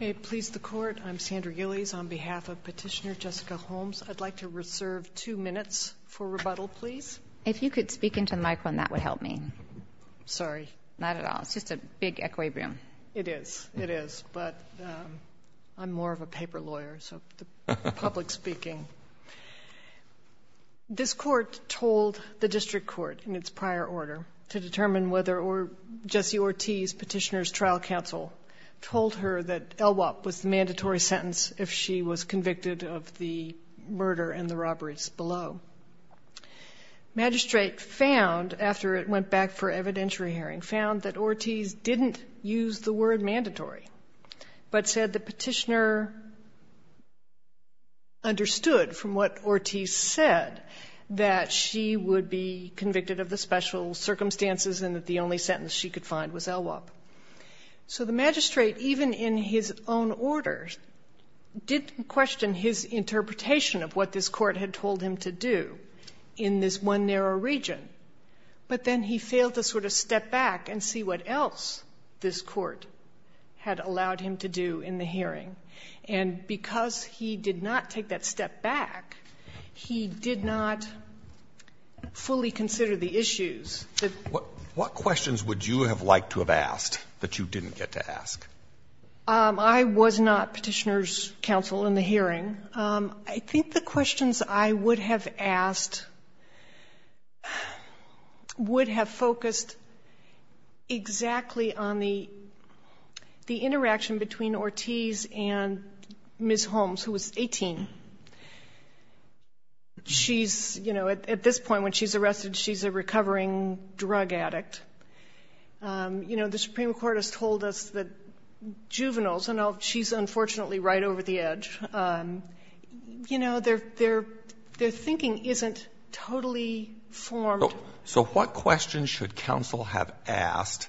May it please the court, I'm Sandra Gillies on behalf of petitioner Jessica Holmes. I'd like to reserve two minutes for rebuttal please. If you could speak into the microphone that would help me. Sorry. Not at all, it's just a big equilibrium. It is, it is, but I'm more of a paper lawyer so public speaking. This court told the district court in its prior order to determine whether or Jessie Ortiz, petitioner's trial counsel, told her that LWOP was the mandatory sentence if she was convicted of the murder and the robberies below. Magistrate found, after it went back for evidentiary hearing, found that Ortiz didn't use the word mandatory but said the petitioner understood from what Ortiz said that she would be convicted of the special circumstances and that the only sentence she could find was LWOP. So the magistrate, even in his own order, didn't question his interpretation of what this court had told him to do in this one narrow region. But then he failed to sort of step back and see what else this court had allowed him to do in the hearing. And because he did not take that step back, he did not fully consider the issues. What questions would you have liked to have asked that you didn't get to ask? I was not petitioner's counsel in the hearing. I think the questions I would have asked would have focused exactly on the interaction between Ortiz and Ms. Holmes, who was 18. She's, you know, at this point when she's arrested, she's a recovering drug addict. You know, the Supreme Court has told us that juveniles, and she's unfortunately right over the edge, you know, their thinking isn't totally formed. So what questions should counsel have asked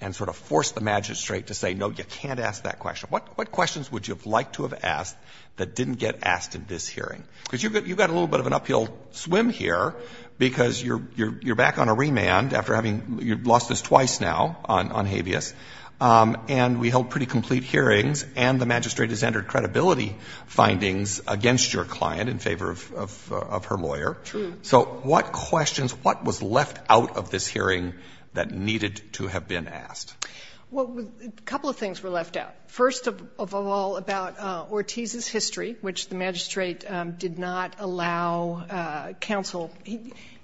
and sort of forced the magistrate to say, no, you can't ask that question? What questions would you have liked to have asked that didn't get asked in this hearing? Because you've got a little bit of an uphill swim here because you're back on a remand after having lost us twice now on credibility findings against your client in favor of her lawyer. True. So what questions, what was left out of this hearing that needed to have been asked? Well, a couple of things were left out. First of all, about Ortiz's history, which the magistrate did not allow counsel.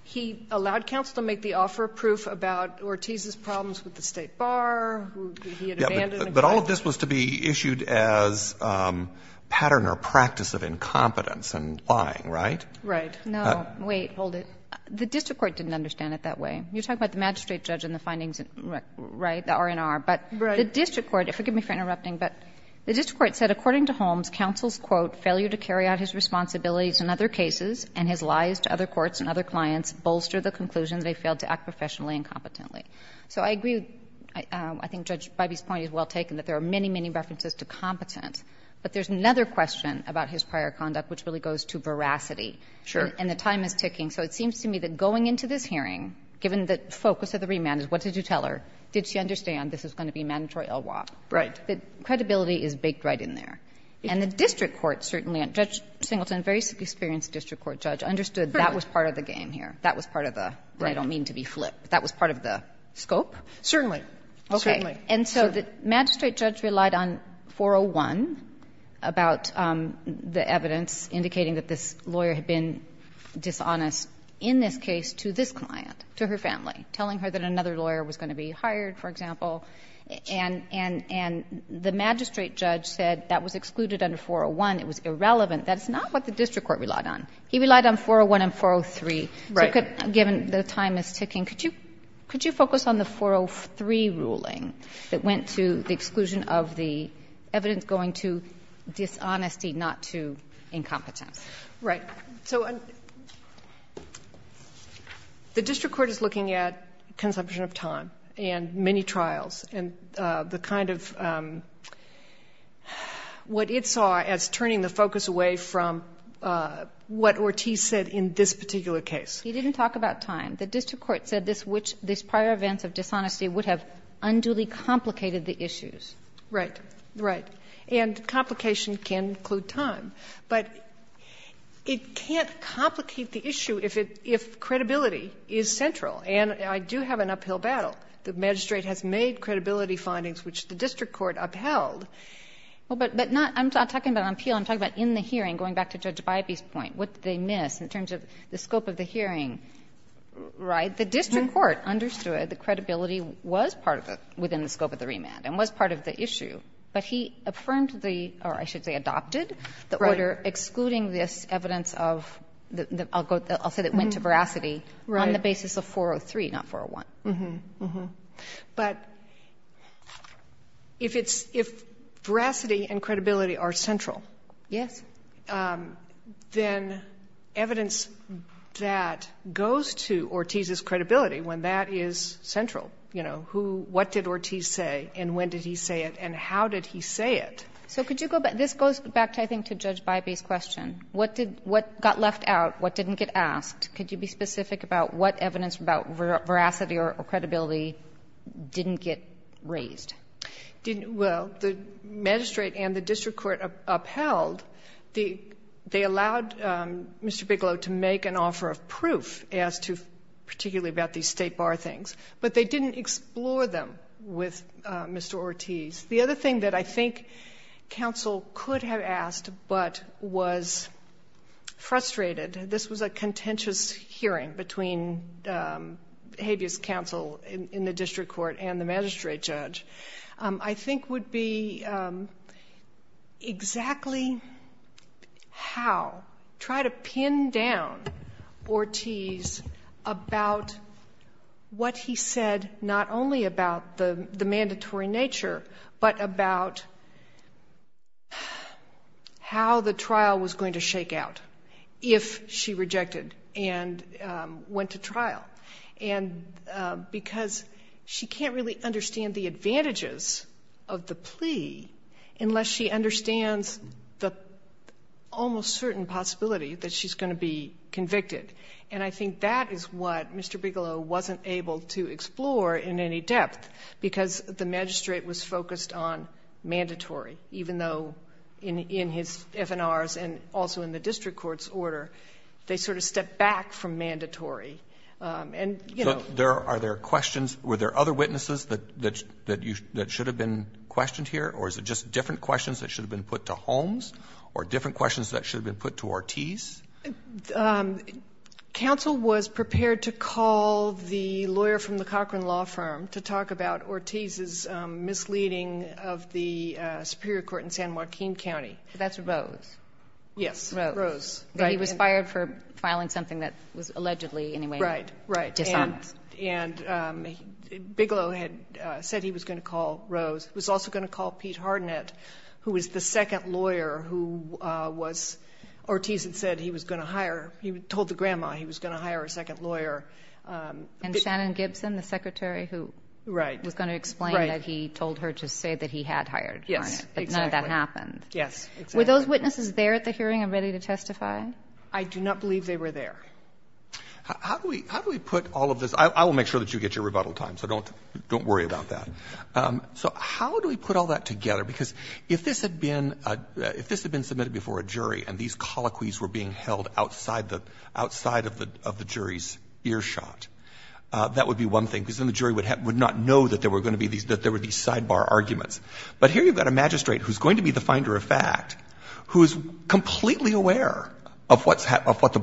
He allowed counsel to make the offer of proof about Ortiz's problems with the State Bar, who he had abandoned. But all of this was to be issued as pattern or practice of incompetence and lying, right? Right. No, wait, hold it. The district court didn't understand it that way. You're talking about the magistrate judge and the findings, right, the R&R. But the district court, forgive me for interrupting, but the district court said, according to Holmes, counsel's, quote, failure to carry out his responsibilities in other cases and his lies to other courts and other clients bolster the conclusion that he failed to act professionally and competently. So I agree, I think Judge Bybee's point is well taken, that there are many, many references to competence. But there's another question about his prior conduct which really goes to veracity. Sure. And the time is ticking. So it seems to me that going into this hearing, given the focus of the remand is what did you tell her, did she understand this is going to be mandatory LWOP? Right. The credibility is baked right in there. And the district court certainly, and Judge Singleton, a very experienced district court judge, understood that was part of the idea, and I don't mean to be flip, but that was part of the scope. Certainly, certainly. Okay. And so the magistrate judge relied on 401 about the evidence indicating that this lawyer had been dishonest in this case to this client, to her family, telling her that another lawyer was going to be hired, for example. And the magistrate judge said that was excluded under 401, it was irrelevant. That's not what the district court relied on. He relied on 401 and 403. Given the time is ticking, could you focus on the 403 ruling that went to the exclusion of the evidence going to dishonesty, not to incompetence? Right. So the district court is looking at consumption of time and many trials and the kind of what it saw as turning the focus away from what Ortiz said in this particular case. He didn't talk about time. The district court said this prior events of dishonesty would have unduly complicated the issues. Right. Right. And complication can include time. But it can't complicate the issue if credibility is central. And I do have an uphill battle. The magistrate has made credibility findings, which the district court upheld. But I'm not talking about on appeal. I'm talking about in the hearing, going back to Judge Bybee's point, what did they The district court understood that the credibility was part of it within the scope of the remand and was part of the issue. But he affirmed the, or I should say adopted, the order excluding this evidence of, I'll say that it went to veracity, on the basis of 403, not 401. But if it's, if veracity and credibility are central. Yes. Then evidence that goes to Ortiz's credibility, when that is central, you know, who, what did Ortiz say and when did he say it and how did he say it? So could you go back, this goes back to, I think, to Judge Bybee's question. What did, what got left out? What didn't get asked? Could you be specific about what evidence about veracity or credibility didn't get raised? Well, the magistrate and the district court upheld the, they allowed Mr. Bigelow to make an offer of proof as to, particularly about these state bar things, but they didn't explore them with Mr. Ortiz. The other thing that I think counsel could have asked, but was frustrated, this was a contentious hearing between habeas counsel in the district court and the magistrate judge, I think would be exactly how, try to pin down Ortiz about what he said, not only about the mandatory nature, but about how the trial was going to shake out if she rejected and went to trial. And because she can't really understand the advantages of the plea unless she understands the almost certain possibility that she's going to be convicted. And I think that is what Mr. Bigelow wasn't able to explore in any depth because the magistrate was focused on mandatory, even though in his FNRs and also in the district court's order, they sort of stepped back from mandatory. And, you know. Are there questions, were there other witnesses that should have been questioned here, or is it just different questions that should have been put to Holmes, or different questions that should have been put to Ortiz? Counsel was prepared to call the lawyer from the Cochran Law Firm to talk about Ortiz's misleading of the superior court in San Joaquin County. That's Rose. Yes, Rose. But he was fired for filing something that was allegedly in a way dishonest. Right, right. And Bigelow had said he was going to call Rose. He was also going to call Pete Harnett, who was the second lawyer who was, Ortiz had said he was going to hire, he told the grandma he was going to hire a second lawyer. And Shannon Gibson, the secretary who was going to explain that he told her to say that he had hired Harnett. Yes, exactly. But none of that happened. Yes, exactly. Were those witnesses there at the hearing and ready to testify? I do not believe they were there. How do we put all of this? I will make sure that you get your rebuttal time, so don't worry about that. So how do we put all that together? Because if this had been submitted before a jury and these colloquies were being held outside of the jury's earshot, that would be one thing, because then the jury would not know that there were going to be these sidebar arguments. But here you've got a magistrate who's going to be the finder of fact, who is completely aware of what the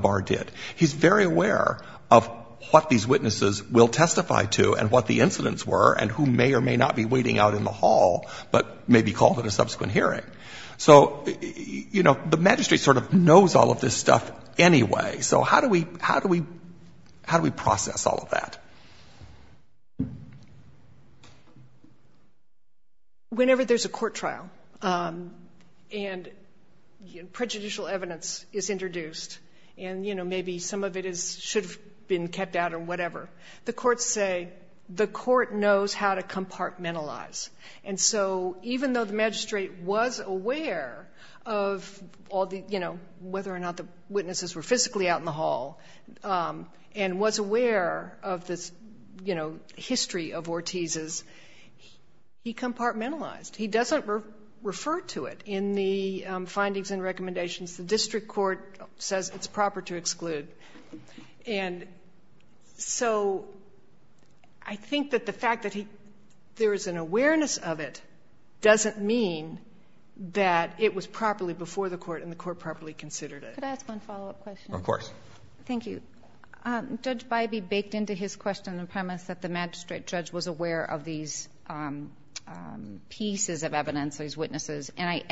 bar did. He's very aware of what these witnesses will testify to and what the incidents were and who may or may not be waiting out in the hall, but may be called at a subsequent hearing. So, you know, the magistrate sort of knows all of this stuff anyway. So how do we process all of that? Whenever there's a court trial and prejudicial evidence is introduced and, you know, maybe some of it should have been kept out or whatever, the courts say the court knows how to compartmentalize. And so even though the magistrate was aware of all the, you know, whether or not the witnesses were physically out in the hall and was aware of the sidebar history of Ortiz's, he compartmentalized. He doesn't refer to it in the findings and recommendations. The district court says it's proper to exclude. And so I think that the fact that there is an awareness of it doesn't mean that it was properly before the court and the court properly considered it. Could I ask one follow-up question? Of course. Thank you. Judge Bybee baked into his question the premise that the magistrate judge was aware of these pieces of evidence, these witnesses. And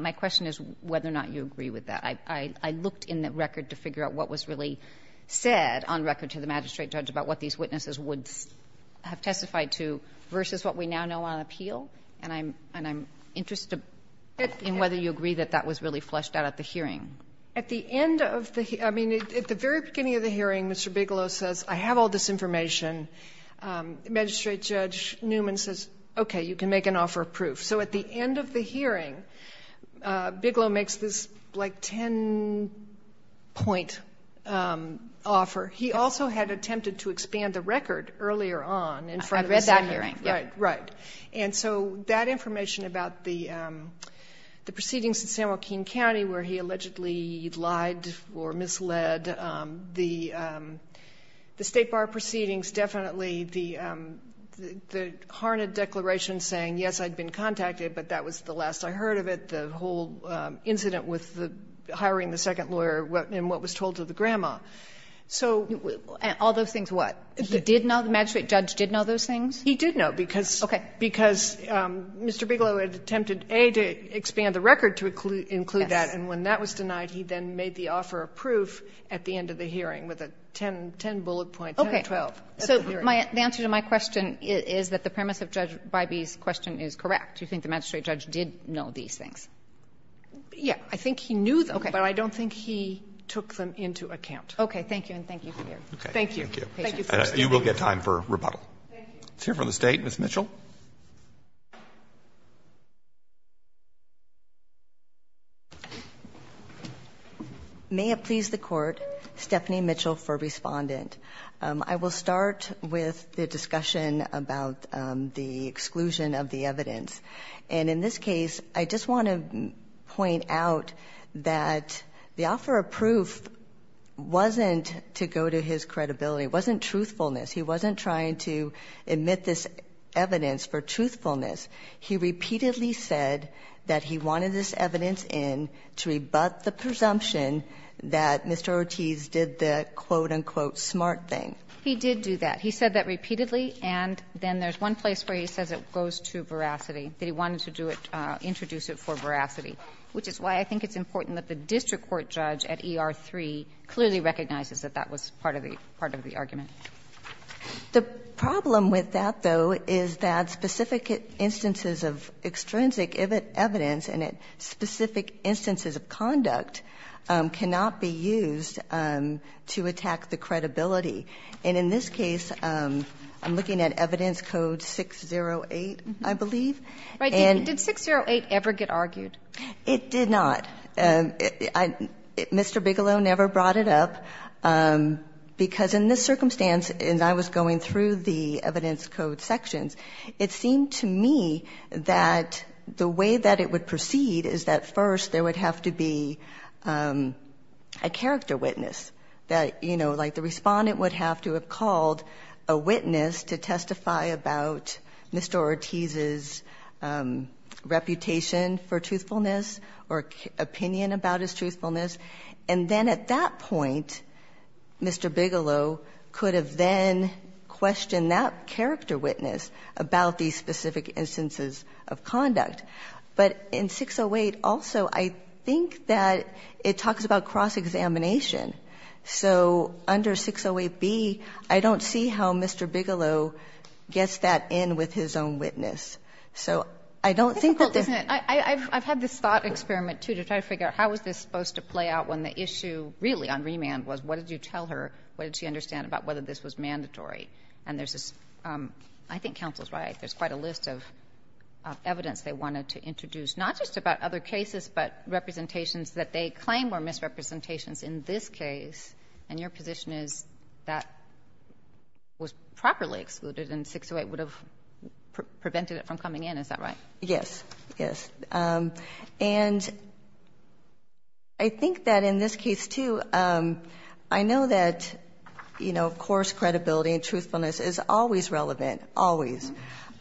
my question is whether or not you agree with that. I looked in the record to figure out what was really said on record to the magistrate judge about what these witnesses would have testified to versus what we now know on appeal. And I'm interested in whether you agree that that was really fleshed out at the hearing. At the end of the, I mean, at the very beginning of the hearing, Mr. Bigelow says, I have all this information. Magistrate Judge Newman says, okay, you can make an offer of proof. So at the end of the hearing, Bigelow makes this, like, ten-point offer. He also had attempted to expand the record earlier on in front of us. I've read that hearing. Right. And so that information about the proceedings in San Joaquin County where he allegedly lied or misled the State Bar proceedings, definitely the harned declaration saying, yes, I'd been contacted, but that was the last I heard of it, the whole incident with the hiring the second lawyer and what was told to the grandma. So. And all those things what? He did know? The magistrate judge did know those things? He did know, because Mr. Bigelow had attempted, A, to expand the record to include that, and when that was denied, he then made the offer of proof at the end of the hearing with a ten bullet point, 10 or 12. Okay. So the answer to my question is that the premise of Judge Bybee's question is correct. You think the magistrate judge did know these things? Yeah. I think he knew them. Okay. But I don't think he took them into account. Okay. Thank you, and thank you for hearing. Okay. Thank you. You will get time for rebuttal. Thank you. Let's hear from the State. Ms. Mitchell. May it please the Court, Stephanie Mitchell for Respondent. I will start with the discussion about the exclusion of the evidence. And in this case, I just want to point out that the offer of proof wasn't to go to his credibility. It wasn't truthfulness. He wasn't trying to admit this evidence. He repeatedly said that he wanted this evidence in to rebut the presumption that Mr. Ortiz did the quote, unquote, smart thing. He did do that. He said that repeatedly, and then there's one place where he says it goes to veracity, that he wanted to do it, introduce it for veracity, which is why I think it's important that the district court judge at ER-3 clearly recognizes that that was part of the argument. The problem with that, though, is that specific instances of extrinsic evidence and specific instances of conduct cannot be used to attack the credibility. And in this case, I'm looking at evidence code 608, I believe. Right. Did 608 ever get argued? It did not. Mr. Bigelow never brought it up because in this circumstance, as I was going through the evidence code sections, it seemed to me that the way that it would proceed is that first there would have to be a character witness that, you know, like the respondent would have to have called a witness to testify about Mr. Ortiz's reputation for truthfulness or opinion about his truthfulness. And then at that point, Mr. Bigelow could have then questioned that character witness about these specific instances of conduct. But in 608 also, I think that it talks about cross-examination. So under 608B, I don't see how Mr. Bigelow gets that in with his own witness. So I don't think that there's — It's difficult, isn't it? I've had this thought experiment, too, to try to figure out how is this supposed to play out when the issue really on remand was what did you tell her, what did she understand about whether this was mandatory. And there's this — I think counsel is right. There's quite a list of evidence they wanted to introduce, not just about other cases, but representations that they claim were misrepresentations in this case. And your position is that was properly excluded and 608 would have prevented it from coming in. Is that right? Yes. Yes. And I think that in this case, too, I know that, you know, of course, credibility and truthfulness is always relevant, always.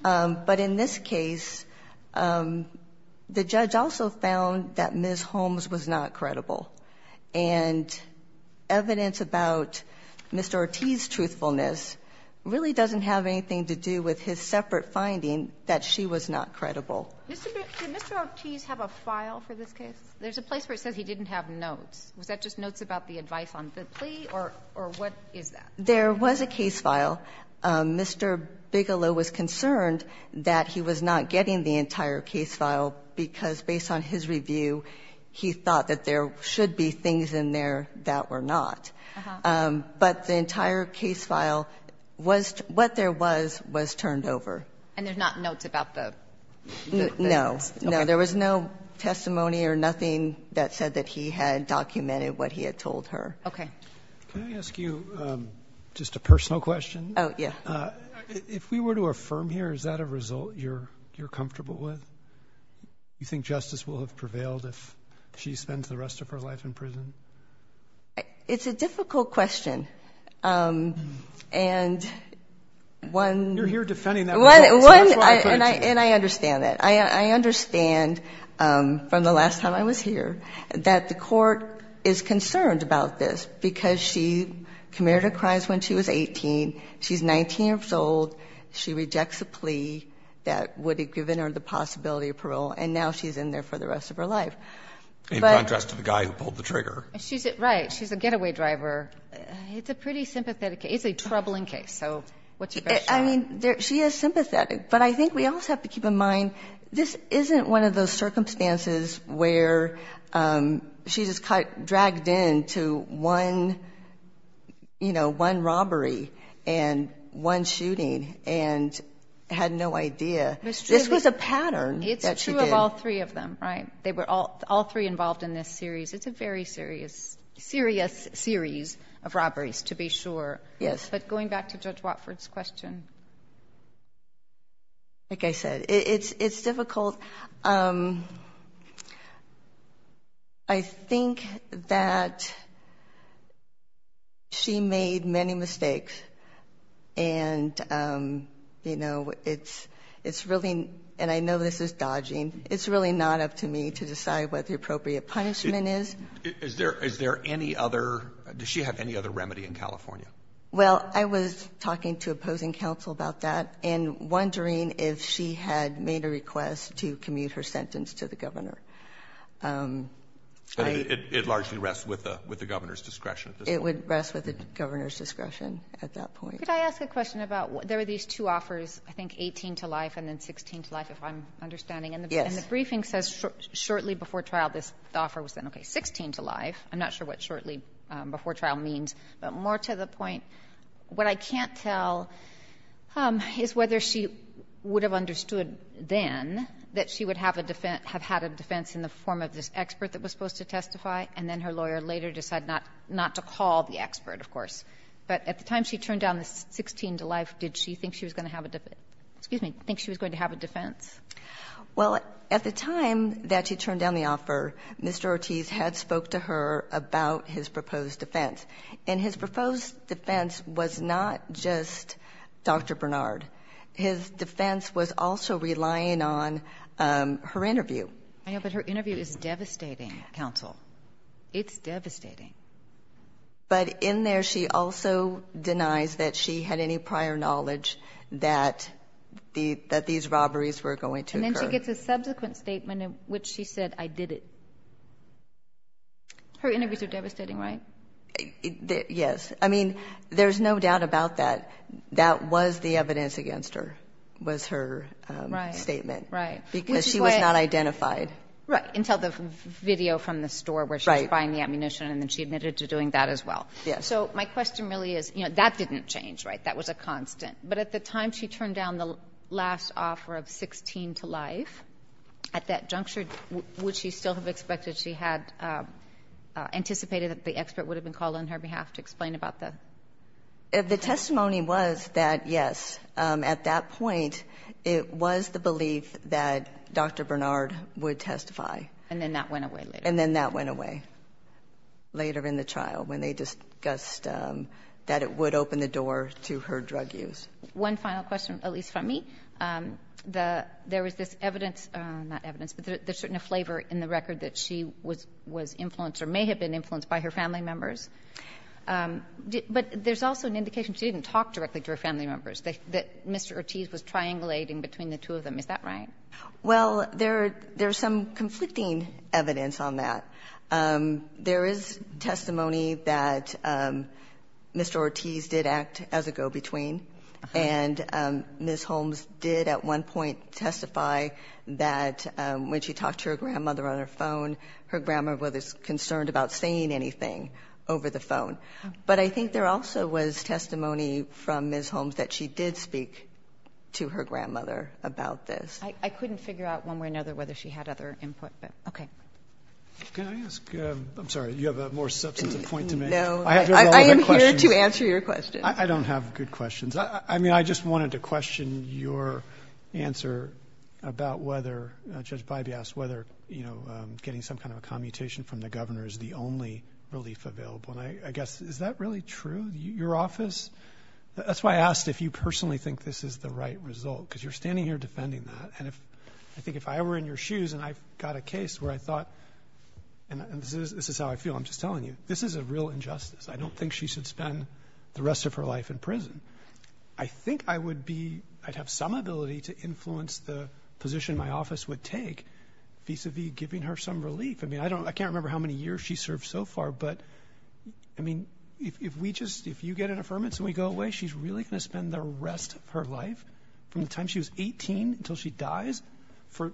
But in this case, the judge also found that Ms. Holmes was not credible. And evidence about Mr. Ortiz's truthfulness really doesn't have anything to do with his separate finding that she was not credible. Did Mr. Ortiz have a file for this case? There's a place where it says he didn't have notes. Was that just notes about the advice on the plea, or what is that? There was a case file. Mr. Bigelow was concerned that he was not getting the entire case file because based on his review, he thought that there should be things in there that were not. But the entire case file, what there was, was turned over. And there's not notes about the evidence? No. No. There was no testimony or nothing that said that he had documented what he had told her. Okay. Can I ask you just a personal question? Oh, yeah. If we were to affirm here, is that a result you're comfortable with? You think justice will have prevailed if she spends the rest of her life in prison? It's a difficult question. And one. You're here defending that. And I understand that. I understand from the last time I was here that the court is concerned about this because she committed a crime when she was 18. She's 19 years old. She rejects a plea that would have given her the possibility of parole. And now she's in there for the rest of her life. In contrast to the guy who pulled the trigger. Right. She's a getaway driver. It's a pretty sympathetic case. It's a troubling case. So what's your best shot? I mean, she is sympathetic. But I think we also have to keep in mind this isn't one of those circumstances where she just dragged into one robbery and one shooting and had no idea. This was a pattern that she did. It's true of all three of them, right? All three involved in this series. It's a very serious series of robberies, to be sure. Yes. But going back to Judge Watford's question. Like I said, it's difficult. I think that she made many mistakes. And, you know, it's really ñ and I know this is dodging. It's really not up to me to decide what the appropriate punishment is. Is there any other ñ does she have any other remedy in California? Well, I was talking to opposing counsel about that and wondering if she had made a request to commute her sentence to the governor. It largely rests with the governor's discretion at this point. It would rest with the governor's discretion at that point. Could I ask a question about ñ there are these two offers, I think, 18 to life and then 16 to life, if I'm understanding. Yes. And the briefing says shortly before trial, this offer was then, okay, 16 to life. I'm not sure what shortly before trial means. But more to the point, what I can't tell is whether she would have understood then that she would have a defense ñ have had a defense in the form of this expert that was supposed to testify, and then her lawyer later decided not to call the expert, of course. But at the time she turned down the 16 to life, did she think she was going to have a ñ excuse me, think she was going to have a defense? Well, at the time that she turned down the offer, Mr. Ortiz had spoke to her about his proposed defense. And his proposed defense was not just Dr. Bernard. His defense was also relying on her interview. I know, but her interview is devastating, counsel. It's devastating. But in there she also denies that she had any prior knowledge that the ñ that these robberies were going to occur. And then she gets a subsequent statement in which she said, I did it. Her interviews are devastating, right? Yes. I mean, there's no doubt about that. That was the evidence against her, was her statement. Right, right. Because she was not identified. Right, until the video from the store where she was buying the ammunition, and then she admitted to doing that as well. Yes. So my question really is, you know, that didn't change, right? That was a constant. But at the time she turned down the last offer of 16 to life, at that juncture, would she still have expected she had anticipated that the expert would have been called on her behalf to explain about the ñ The testimony was that, yes, at that point it was the belief that Dr. Bernard would testify. And then that went away later. And then that went away later in the trial when they discussed that it would open the door to her drug use. One final question, Elise, from me. The ñ there was this evidence ñ not evidence, but there's certainly a flavor in the record that she was influenced or may have been influenced by her family members. But there's also an indication she didn't talk directly to her family members, that Mr. Ortiz was triangulating between the two of them. Is that right? Well, there's some conflicting evidence on that. There is testimony that Mr. Ortiz did act as a go-between. And Ms. Holmes did at one point testify that when she talked to her grandmother on her phone, her grandmother was concerned about saying anything over the phone. But I think there also was testimony from Ms. Holmes that she did speak to her grandmother about this. I couldn't figure out one way or another whether she had other input, but ñ okay. Can I ask ñ I'm sorry, you have a more substantive point to make. No. I am here to answer your question. I don't have good questions. I mean, I just wanted to question your answer about whether ñ Judge Bybee asked whether, you know, getting some kind of a commutation from the governor is the only relief available. And I guess, is that really true? Your office ñ that's why I asked if you personally think this is the right result, because you're standing here defending that. And if ñ I think if I were in your shoes and I got a case where I thought ñ and this is how I feel, I'm just telling you. This is a real injustice. I don't think she should spend the rest of her life in prison. I think I would be ñ I'd have some ability to influence the position my office would take vis-a-vis giving her some relief. I mean, I can't remember how many years she's served so far, but, I mean, if we just ñ if you get an affirmance and we go away, she's really going to spend the rest of her life, from the time she was 18 until she dies, for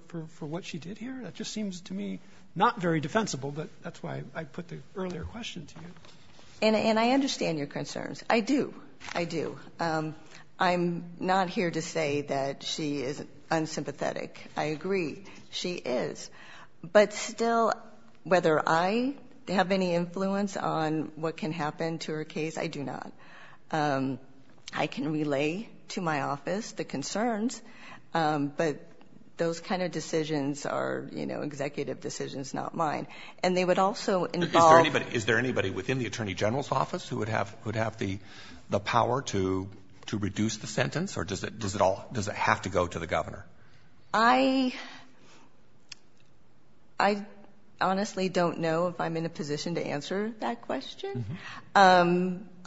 what she did here? That just seems to me not very defensible. But that's why I put the earlier question to you. And I understand your concerns. I do. I do. I'm not here to say that she is unsympathetic. I agree. She is. But still, whether I have any influence on what can happen to her case, I do not. I can relay to my office the concerns. But those kind of decisions are, you know, executive decisions, not mine. And they would also involve ñ Is there anybody within the Attorney General's office who would have the power to reduce the sentence? Or does it all ñ does it have to go to the governor? I honestly don't know if I'm in a position to answer that question.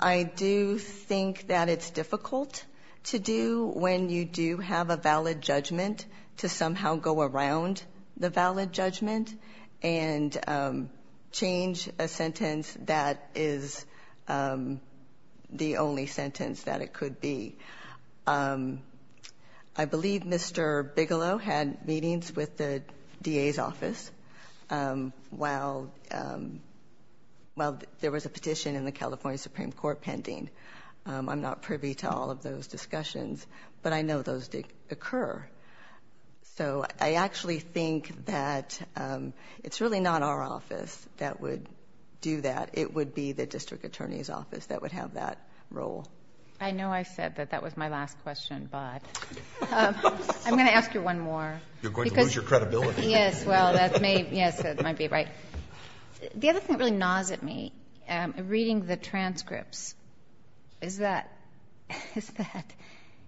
I do think that it's difficult to do when you do have a valid judgment, to somehow go around the valid judgment and change a sentence that is the only sentence that it could be. I believe Mr. Bigelow had meetings with the DA's office while there was a petition in the California Supreme Court pending. I'm not privy to all of those discussions. But I know those did occur. So I actually think that it's really not our office that would do that. It would be the district attorney's office that would have that role. I know I said that that was my last question. But I'm going to ask you one more. You're going to lose your credibility. Yes, well, that may ñ yes, that might be right. The other thing that really gnaws at me, reading the transcripts, is that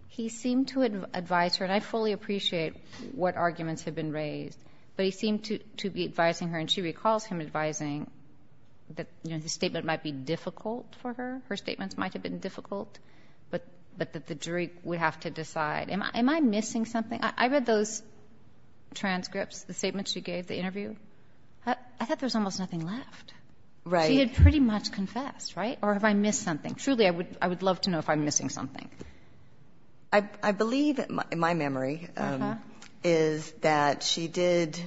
he seemed to advise her ñ and I fully appreciate what arguments have been raised. But he seemed to be advising her, and she recalls him advising that, you know, the statement might be difficult for her. Her statements might have been difficult, but that the jury would have to decide. Am I missing something? I read those transcripts, the statement she gave, the interview. I thought there was almost nothing left. Right. She had pretty much confessed, right? Or have I missed something? Truly, I would love to know if I'm missing something. I believe, in my memory, is that she did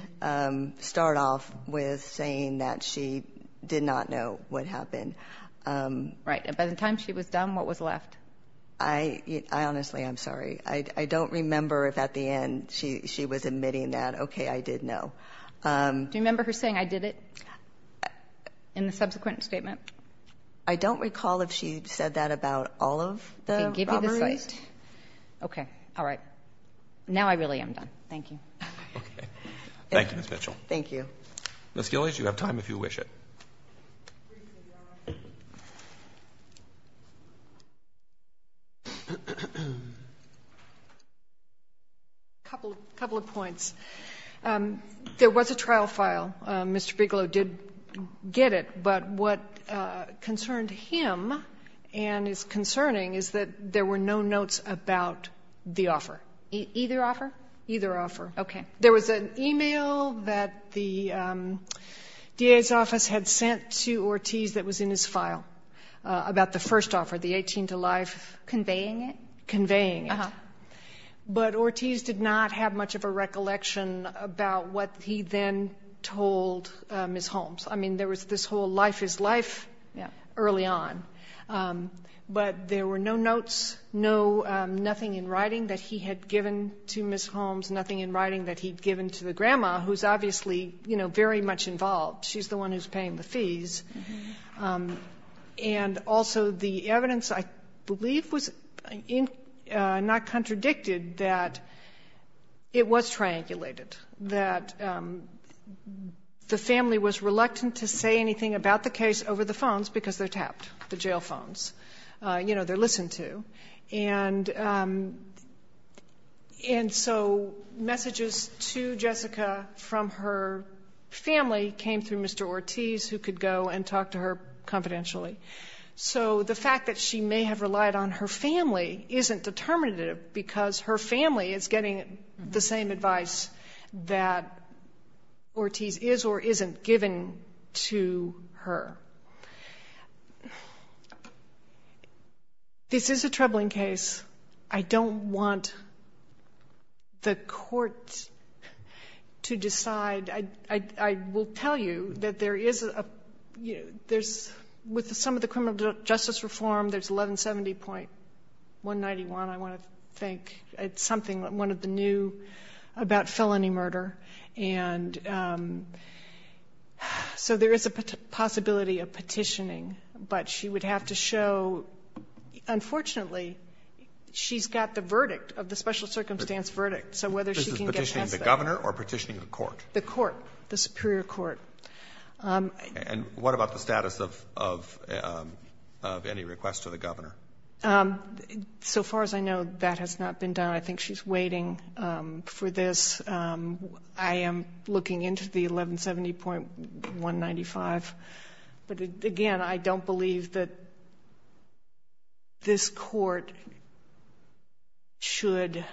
start off with saying that she did not know what happened. Right. And by the time she was done, what was left? I honestly am sorry. I don't remember if at the end she was admitting that, okay, I did know. Do you remember her saying, I did it, in the subsequent statement? I don't recall if she said that about all of the robberies. Okay. All right. Now I really am done. Thank you. Okay. Thank you, Ms. Mitchell. Thank you. Ms. Gillies, you have time if you wish it. Briefly, Your Honor. A couple of points. There was a trial file. Mr. Bigelow did get it. But what concerned him and is concerning is that there were no notes about the offer. Either offer? Either offer. Okay. There was an email that the DA's office had sent to Ortiz that was in his file about the first offer, the 18 to life. Conveying it? Conveying it. But Ortiz did not have much of a recollection about what he then told Ms. Holmes. I mean, there was this whole life is life early on. But there were no notes, nothing in writing that he had given to Ms. Holmes, nothing in writing that he had given to the grandma, who is obviously, you know, very much involved. She is the one who is paying the fees. And also the evidence I believe was not contradicted that it was triangulated, that the family was reluctant to say anything about the case over the phones because they are tapped, the jail phones. You know, they are listened to. And so messages to Jessica from her family came through Mr. Ortiz who could go and talk to her confidentially. So the fact that she may have relied on her family isn't determinative because her family is getting the same advice that Ortiz is or isn't giving to her. This is a troubling case. I don't want the court to decide. I will tell you that there is a, you know, there's, with some of the criminal justice reform, there's 1170.191, I want to think. It's something, one of the new about felony murder. And so there is a possibility of petitioning. But she would have to show, unfortunately, she's got the verdict of the special circumstance verdict. So whether she can get past that. This is petitioning the governor or petitioning the court? The court, the superior court. And what about the status of any requests to the governor? So far as I know, that has not been done. I think she's waiting for this. I am looking into the 1170.195. But, again, I don't believe that this court should,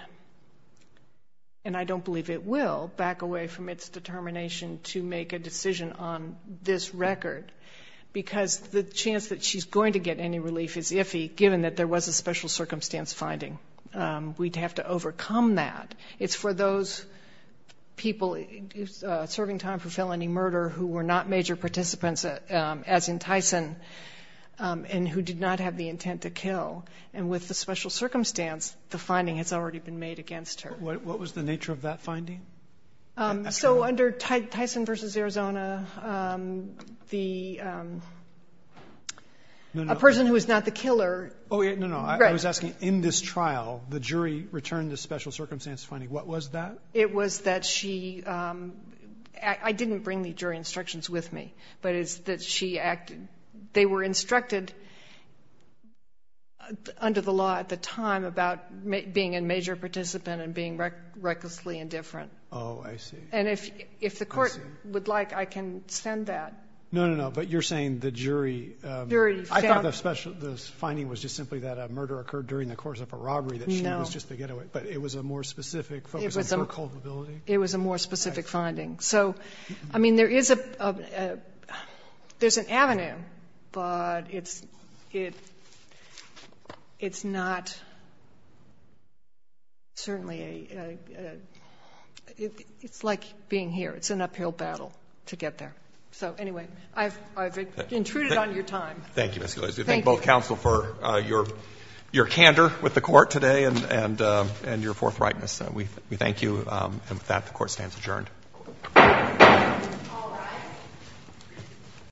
and I don't believe it will, back away from its determination to make a decision on this record because the chance that she's going to get any relief is iffy given that there was a special circumstance finding. We'd have to overcome that. It's for those people serving time for felony murder who were not major participants, as in Tyson, and who did not have the intent to kill. And with the special circumstance, the finding has already been made against her. What was the nature of that finding? So under Tyson v. Arizona, the person who was not the killer. Oh, no, no. I was asking, in this trial, the jury returned the special circumstance finding. What was that? It was that she acted. I didn't bring the jury instructions with me, but it's that she acted. They were instructed under the law at the time about being a major participant and being recklessly indifferent. Oh, I see. And if the court would like, I can send that. No, no, no. But you're saying the jury. I thought the finding was just simply that a murder occurred during the course of a robbery, that she was just the getaway, but it was a more specific focus on her culpability? It was a more specific finding. So, I mean, there is an avenue, but it's not certainly a ñ it's like being here. It's an uphill battle to get there. So, anyway, I've intruded on your time. Thank you, Ms. Gillespie. Thank you. We thank both counsel for your candor with the court today and your forthrightness. We thank you. And with that, the court stands adjourned. All rise.